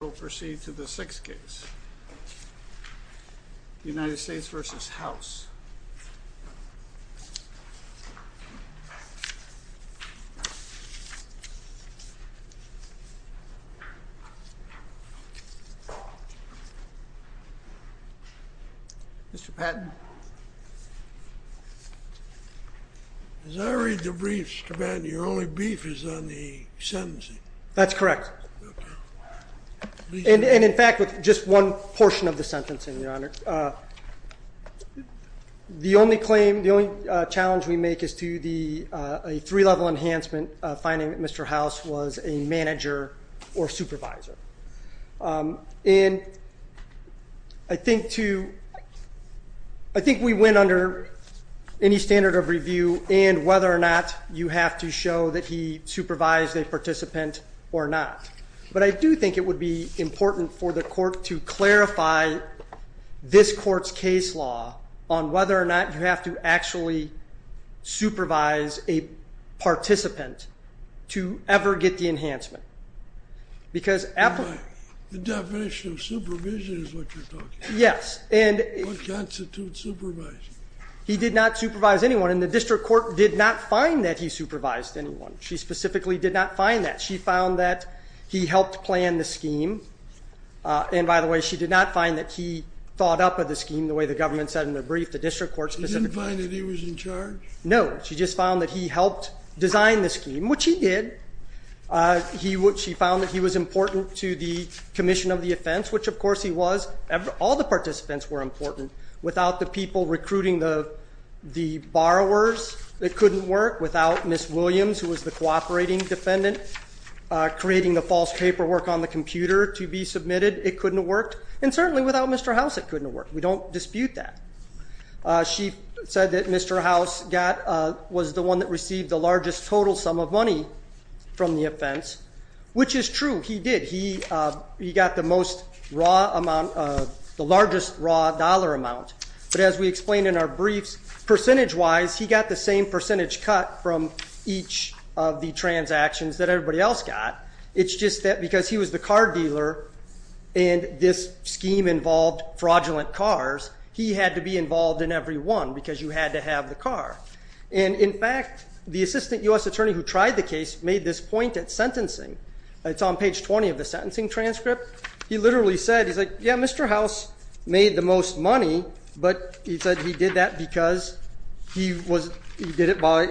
We'll proceed to the 6th case, United States v. House. Mr. Patton. As I read the brief, Mr. Patton, your only brief is on the sentencing. That's correct. And in fact, with just one portion of the sentencing, Your Honor, the only claim, the only challenge we make is to the three-level enhancement finding that Mr. House was a manager or supervisor. And I think we went under any standard of review and whether or not you have to show that he supervised a participant or not. But I do think it would be important for the court to clarify this court's case law on whether or not you have to actually supervise a participant to ever get the enhancement. The definition of supervision is what you're talking about. Yes. What constitutes supervising? He did not supervise anyone, and the district court did not find that he supervised anyone. She specifically did not find that. She found that he helped plan the scheme. And by the way, she did not find that he thought up of the scheme the way the government said in the brief, the district court specifically. She didn't find that he was in charge? No. She just found that he helped design the scheme, which he did. She found that he was important to the commission of the offense, which, of course, he was. All the participants were important. Without the people recruiting the borrowers, it couldn't work. Without Ms. Williams, who was the cooperating defendant, creating the false paperwork on the computer to be submitted, it couldn't have worked. And certainly without Mr. House, it couldn't have worked. We don't dispute that. She said that Mr. House was the one that received the largest total sum of money from the offense, which is true. He did. He got the largest raw dollar amount. But as we explained in our briefs, percentage-wise, he got the same percentage cut from each of the transactions that everybody else got. It's just that because he was the car dealer and this scheme involved fraudulent cars, he had to be involved in every one because you had to have the car. And in fact, the assistant U.S. attorney who tried the case made this point at sentencing. It's on page 20 of the sentencing transcript. He literally said, he's like, yeah, Mr. House made the most money, but he said he did that because he did it by,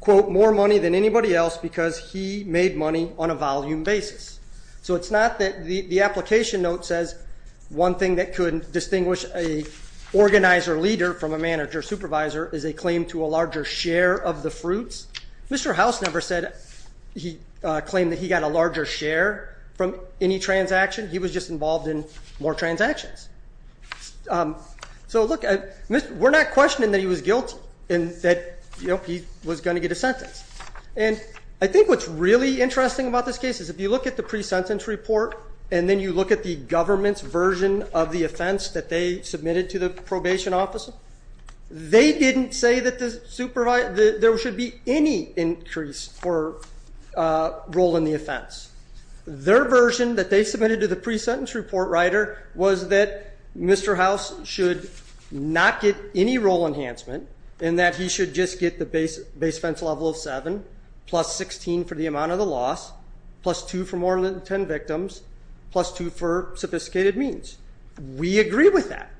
quote, more money than anybody else because he made money on a volume basis. So it's not that the application note says one thing that could distinguish an organizer leader from a manager supervisor is a claim to a larger share of the fruits. Mr. House never said he claimed that he got a larger share from any transaction. He was just involved in more transactions. So look, we're not questioning that he was guilty and that he was going to get a sentence. And I think what's really interesting about this case is if you look at the pre-sentence report and then you look at the government's version of the offense that they submitted to the probation office, they didn't say that there should be any increase for a role in the offense. Their version that they submitted to the pre-sentence report writer was that Mr. House should not get any role enhancement and that he should just get the base level of 7 plus 16 for the amount of the loss, plus 2 for more than 10 victims, plus 2 for sophisticated means. We agree with that.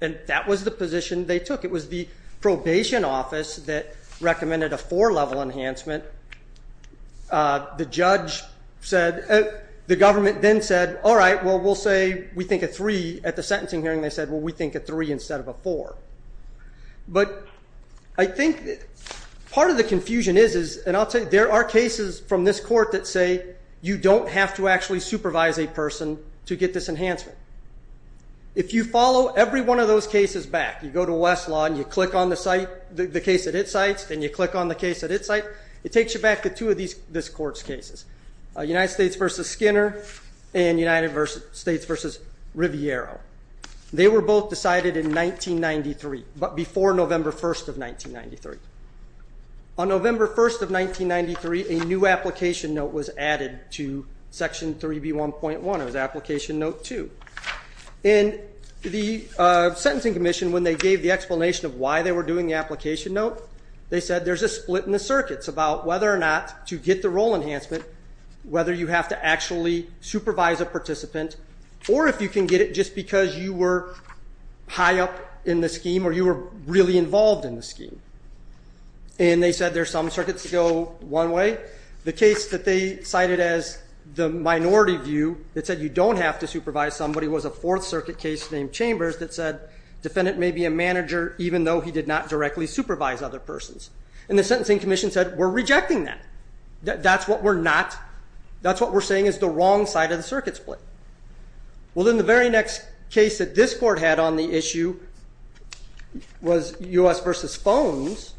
And that was the position they took. It was the probation office that recommended a 4 level enhancement. The judge said the government then said, all right, well, we'll say we think a 3 at the sentencing hearing. They said, well, we think a 3 instead of a 4. But I think part of the confusion is, and I'll tell you, there are cases from this court that say you don't have to actually supervise a person to get this enhancement. If you follow every one of those cases back, you go to Westlaw and you click on the case that it cites, then you click on the case that it cites, it takes you back to two of this court's cases, United States v. Skinner and United States v. Riviero. They were both decided in 1993, but before November 1st of 1993. On November 1st of 1993, a new application note was added to Section 3B1.1. It was Application Note 2. And the Sentencing Commission, when they gave the explanation of why they were doing the application note, they said there's a split in the circuits about whether or not to get the role enhancement, or if you can get it just because you were high up in the scheme or you were really involved in the scheme. And they said there's some circuits that go one way. The case that they cited as the minority view that said you don't have to supervise somebody was a Fourth Circuit case named Chambers that said the defendant may be a manager even though he did not directly supervise other persons. And the Sentencing Commission said, we're rejecting that. That's what we're not. That's what we're saying is the wrong side of the circuit split. Well, then the very next case that this court had on the issue was U.S. v. Phones.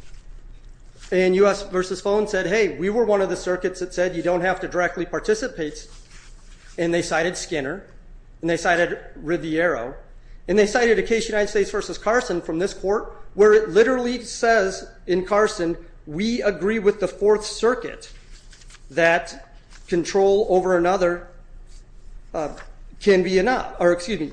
And U.S. v. Phones said, hey, we were one of the circuits that said you don't have to directly participate. And they cited Skinner, and they cited Riviero, and they cited a case, United States v. Carson, from this court, where it literally says in Carson, we agree with the Fourth Circuit that control over another can be enough. Or excuse me,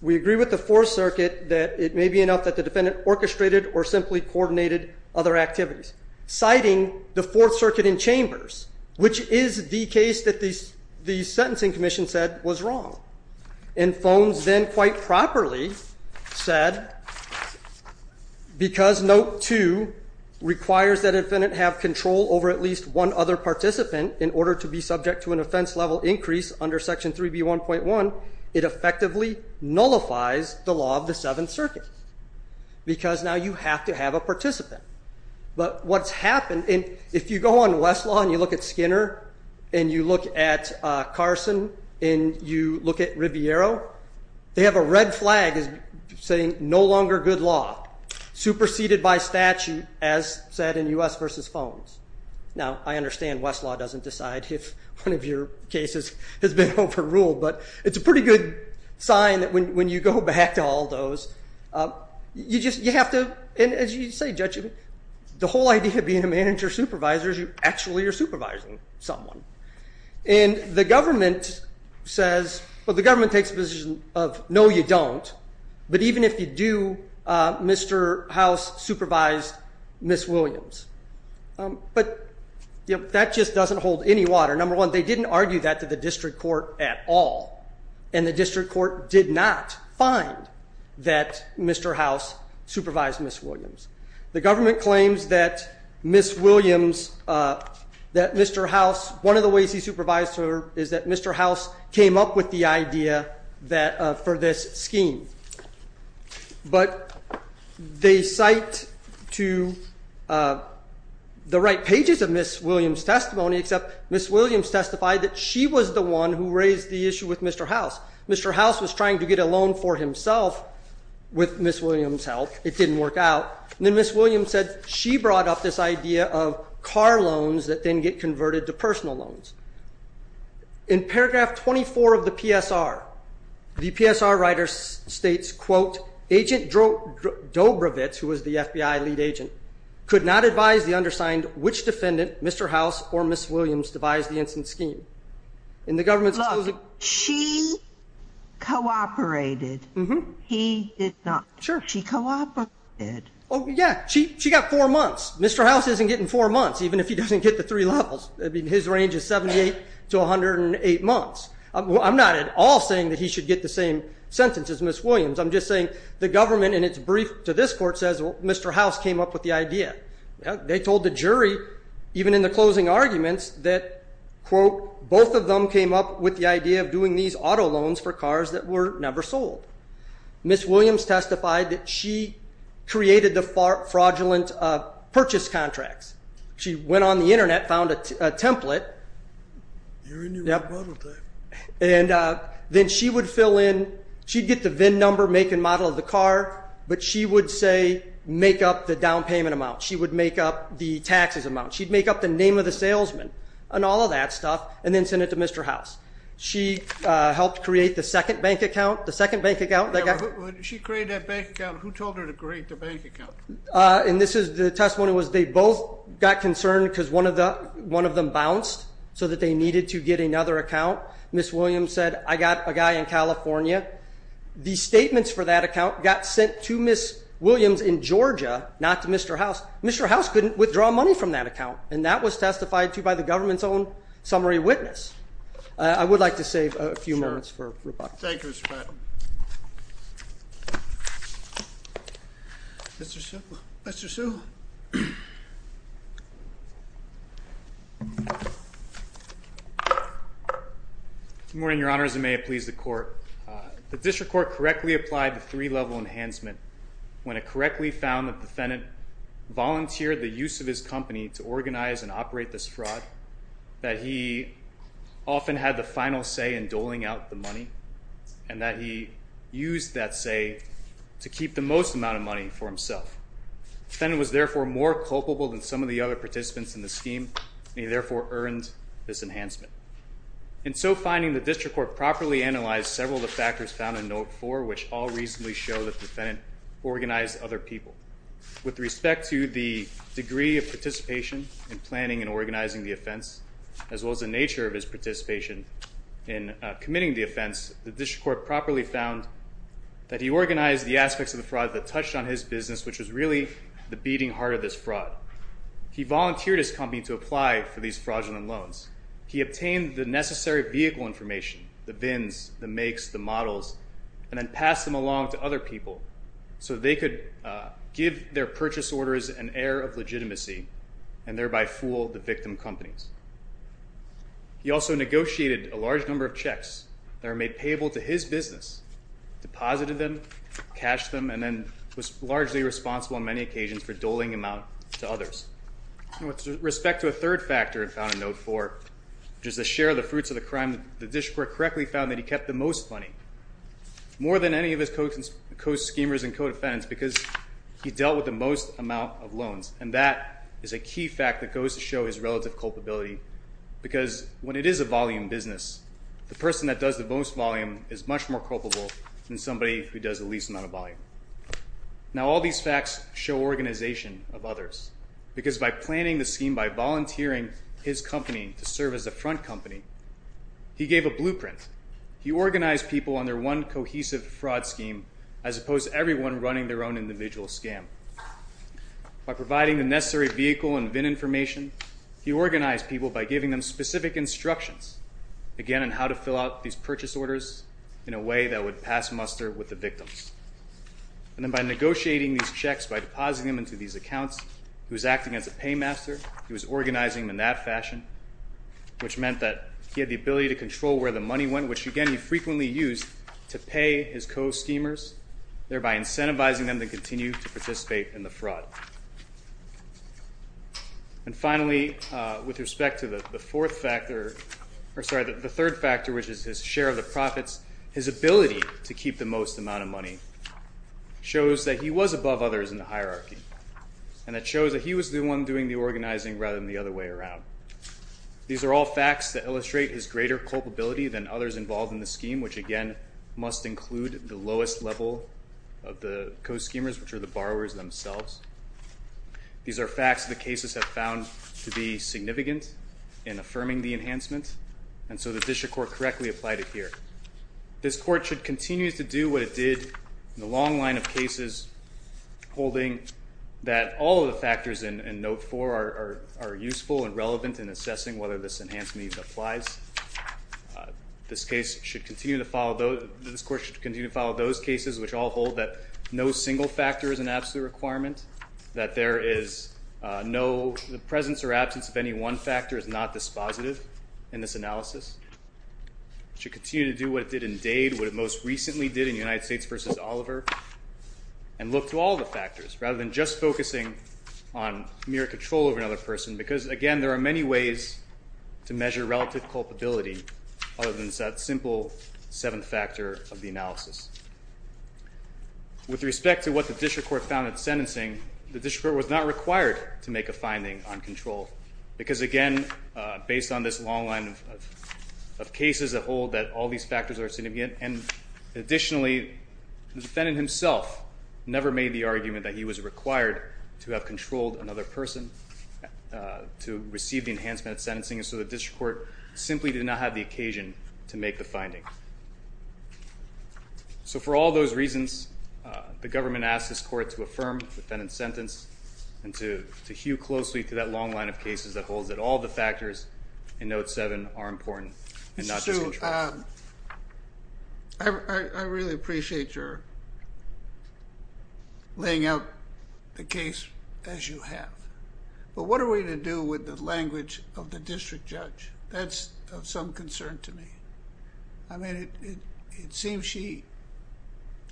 we agree with the Fourth Circuit that it may be enough that the defendant orchestrated or simply coordinated other activities, citing the Fourth Circuit in Chambers, which is the case that the Sentencing Commission said was wrong. And Phones then quite properly said, because Note 2 requires that a defendant have control over at least one other participant in order to be subject to an offense level increase under Section 3B1.1, it effectively nullifies the law of the Seventh Circuit because now you have to have a participant. But what's happened, and if you go on Westlaw and you look at Skinner and you look at Carson and you look at Riviero, they have a red flag saying no longer good law, superseded by statute, as said in U.S. v. Phones. Now, I understand Westlaw doesn't decide if one of your cases has been overruled, but it's a pretty good sign that when you go back to all those, you have to, and as you say, Judge, the whole idea of being a manager supervisor is you actually are supervising someone. And the government says, well, the government takes the position of no, you don't, but even if you do, Mr. House supervised Ms. Williams. But that just doesn't hold any water. Number one, they didn't argue that to the district court at all, and the district court did not find that Mr. House supervised Ms. Williams. The government claims that Ms. Williams, that Mr. House, one of the ways he supervised her is that Mr. House came up with the idea for this scheme. But they cite to the right pages of Ms. Williams' testimony, except Ms. Williams testified that she was the one who raised the issue with Mr. House. Mr. House was trying to get a loan for himself with Ms. Williams' help. It didn't work out. And then Ms. Williams said she brought up this idea of car loans that then get converted to personal loans. In paragraph 24 of the PSR, the PSR writer states, quote, Agent Dobrovitz, who was the FBI lead agent, could not advise the undersigned which defendant, Mr. House, or Ms. Williams devised the incident scheme. And the government's closing. Look, she cooperated. Mm-hmm. He did not. Sure. She cooperated. Oh, yeah. She got four months. Mr. House isn't getting four months, even if he doesn't get the three levels. I mean, his range is 78 to 108 months. I'm not at all saying that he should get the same sentence as Ms. Williams. I'm just saying the government in its brief to this court says, well, Mr. House came up with the idea. They told the jury, even in the closing arguments, that, quote, both of them came up with the idea of doing these auto loans for cars that were never sold. Ms. Williams testified that she created the fraudulent purchase contracts. She went on the Internet, found a template. You're in your own prototype. And then she would fill in. She'd get the VIN number, make and model of the car, but she would, say, make up the down payment amount. She would make up the taxes amount. She'd make up the name of the salesman and all of that stuff and then send it to Mr. House. She helped create the second bank account. When she created that bank account, who told her to create the bank account? And this is the testimony was they both got concerned because one of them bounced so that they needed to get another account. Ms. Williams said, I got a guy in California. The statements for that account got sent to Ms. Williams in Georgia, not to Mr. House. Mr. House couldn't withdraw money from that account, and that was testified to by the government's own summary witness. I would like to save a few moments for rebuttal. Thank you, Mr. Patel. Mr. Sewell. Good morning, Your Honor. As it may have pleased the court, the district court correctly applied the three-level enhancement when it correctly found that the defendant volunteered the use of his company to organize and operate this fraud, that he often had the final say in doling out the money, and that he used that say to keep the most amount of money for himself. The defendant was therefore more culpable than some of the other participants in the scheme, and he therefore earned this enhancement. In so finding, the district court properly analyzed several of the factors found in Note 4, which all reasonably show that the defendant organized other people. With respect to the degree of participation in planning and organizing the offense, as well as the nature of his participation in committing the offense, the district court properly found that he organized the aspects of the fraud that touched on his business, which was really the beating heart of this fraud. He volunteered his company to apply for these fraudulent loans. He obtained the necessary vehicle information, the VINs, the makes, the models, and then passed them along to other people so they could give their purchase orders an air of legitimacy and thereby fool the victim companies. He also negotiated a large number of checks that were made payable to his business, deposited them, cashed them, and then was largely responsible on many occasions for doling them out to others. With respect to a third factor found in Note 4, which is the share of the fruits of the crime, the district court correctly found that he kept the most money, more than any of his co-schemers and co-defendants because he dealt with the most amount of loans, and that is a key fact that goes to show his relative culpability because when it is a volume business, the person that does the most volume is much more culpable than somebody who does the least amount of volume. Now, all these facts show organization of others because by planning the scheme, by volunteering his company to serve as a front company, he gave a blueprint. He organized people under one cohesive fraud scheme as opposed to everyone running their own individual scam. By providing the necessary vehicle and VIN information, he organized people by giving them specific instructions, again, on how to fill out these purchase orders in a way that would pass muster with the victims. And then by negotiating these checks, by depositing them into these accounts, he was acting as a paymaster. He was organizing them in that fashion, which meant that he had the ability to control where the money went, which, again, he frequently used to pay his co-schemers, thereby incentivizing them to continue to participate in the fraud. And finally, with respect to the third factor, which is his share of the profits, his ability to keep the most amount of money shows that he was above others in the hierarchy, and that shows that he was the one doing the organizing rather than the other way around. These are all facts that illustrate his greater culpability than others involved in the scheme, which, again, must include the lowest level of the co-schemers, which are the borrowers themselves. These are facts that the cases have found to be significant in affirming the enhancement, and so the district court correctly applied it here. This court should continue to do what it did in the long line of cases, holding that all of the factors in Note 4 are useful and relevant in assessing whether this enhancement even applies. This court should continue to follow those cases which all hold that no single factor is an absolute requirement, that the presence or absence of any one factor is not dispositive in this analysis. It should continue to do what it did in Dade, what it most recently did in United States v. Oliver, and look to all the factors rather than just focusing on mere control over another person, because, again, there are many ways to measure relative culpability other than that simple seventh factor of the analysis. With respect to what the district court found in the sentencing, the district court was not required to make a finding on control, because, again, based on this long line of cases that hold that all these factors are significant, and additionally, the defendant himself never made the argument that he was required to have controlled another person to receive the enhancement of sentencing, and so the district court simply did not have the occasion to make the finding. So for all those reasons, the government asked this court to affirm the defendant's sentence and to hew closely to that long line of cases that holds that all the factors in Note 7 are important and not just control. Mr. Hsu, I really appreciate your laying out the case as you have, but what are we to do with the language of the district judge? That's of some concern to me. I mean, it seems she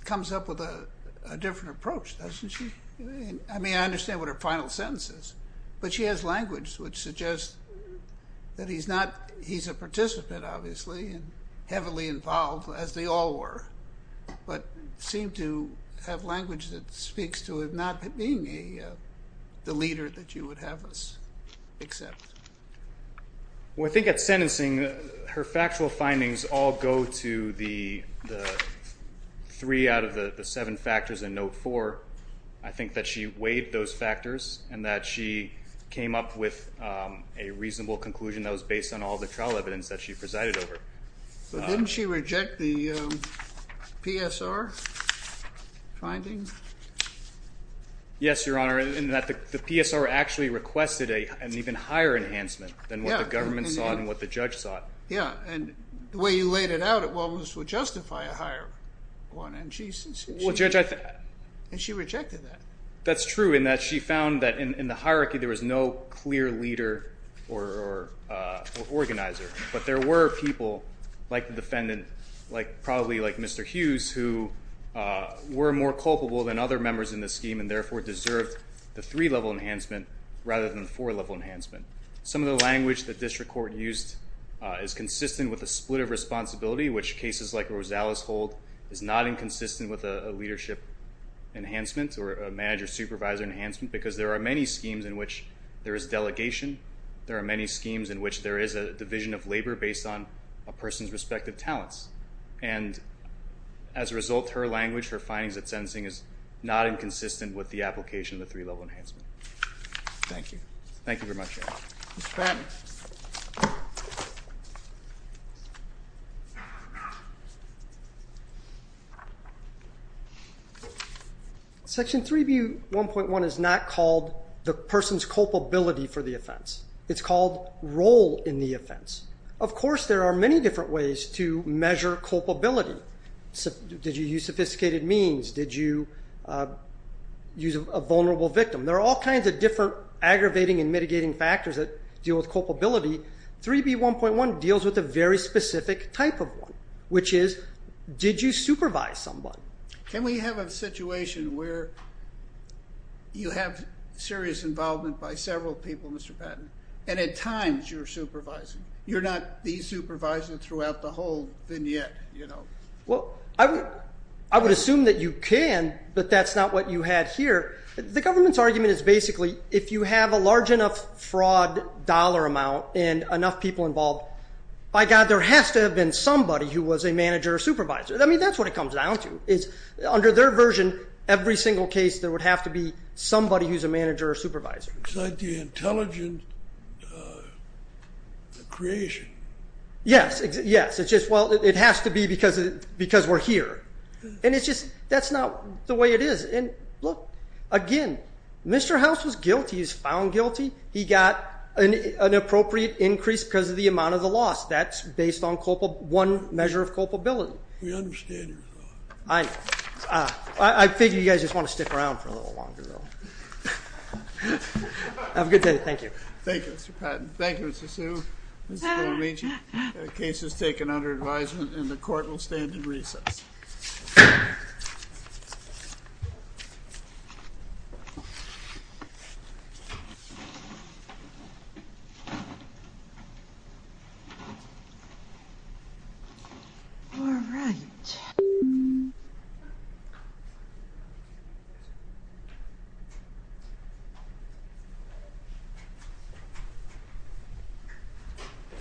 comes up with a different approach, doesn't she? I mean, I understand what her final sentence is, but she has language which suggests that he's a participant, obviously, and heavily involved, as they all were, but seemed to have language that speaks to him not being the leader that you would have us accept. Well, I think at sentencing, her factual findings all go to the three out of the seven factors in Note 4. I think that she weighed those factors and that she came up with a reasonable conclusion that was based on all the trial evidence that she presided over. But didn't she reject the PSR finding? Yes, Your Honor, in that the PSR actually requested an even higher enhancement than what the government saw and what the judge saw. Yeah, and the way you laid it out, it almost would justify a higher one. And she rejected that. That's true in that she found that in the hierarchy there was no clear leader or organizer, but there were people like the defendant, probably like Mr. Hughes, who were more culpable than other members in the scheme and therefore deserved the three-level enhancement rather than the four-level enhancement. Some of the language the district court used is consistent with the split of responsibility, which cases like Rosales hold is not inconsistent with a leadership enhancement or a manager-supervisor enhancement because there are many schemes in which there is delegation. There are many schemes in which there is a division of labor based on a person's respective talents. And as a result, her language, her findings at sentencing, is not inconsistent with the application of the three-level enhancement. Thank you. Thank you very much, Your Honor. Mr. Patton. Section 3B1.1 is not called the person's culpability for the offense. It's called role in the offense. Of course there are many different ways to measure culpability. Did you use sophisticated means? Did you use a vulnerable victim? There are all kinds of different aggravating and mitigating factors that deal with culpability. 3B1.1 deals with a very specific type of one, which is did you supervise someone? Can we have a situation where you have serious involvement by several people, Mr. Patton, and at times you're supervising? You're not the supervisor throughout the whole vignette, you know? Well, I would assume that you can, but that's not what you had here. The government's argument is basically if you have a large enough fraud dollar amount and enough people involved, by God, there has to have been somebody who was a manager or supervisor. I mean, that's what it comes down to is under their version, every single case there would have to be somebody who's a manager or supervisor. It's like the intelligent creation. Yes, yes. It's just, well, it has to be because we're here. And it's just that's not the way it is. And, look, again, Mr. House was guilty. He was found guilty. He got an appropriate increase because of the amount of the loss. That's based on one measure of culpability. We understand your thought. I know. I figure you guys just want to stick around for a little longer, though. Have a good day. Thank you. Thank you, Mr. Patton. Thank you, Mr. Hsu. This has been a raging case that's taken under advisement, and the court will stand at recess. All right.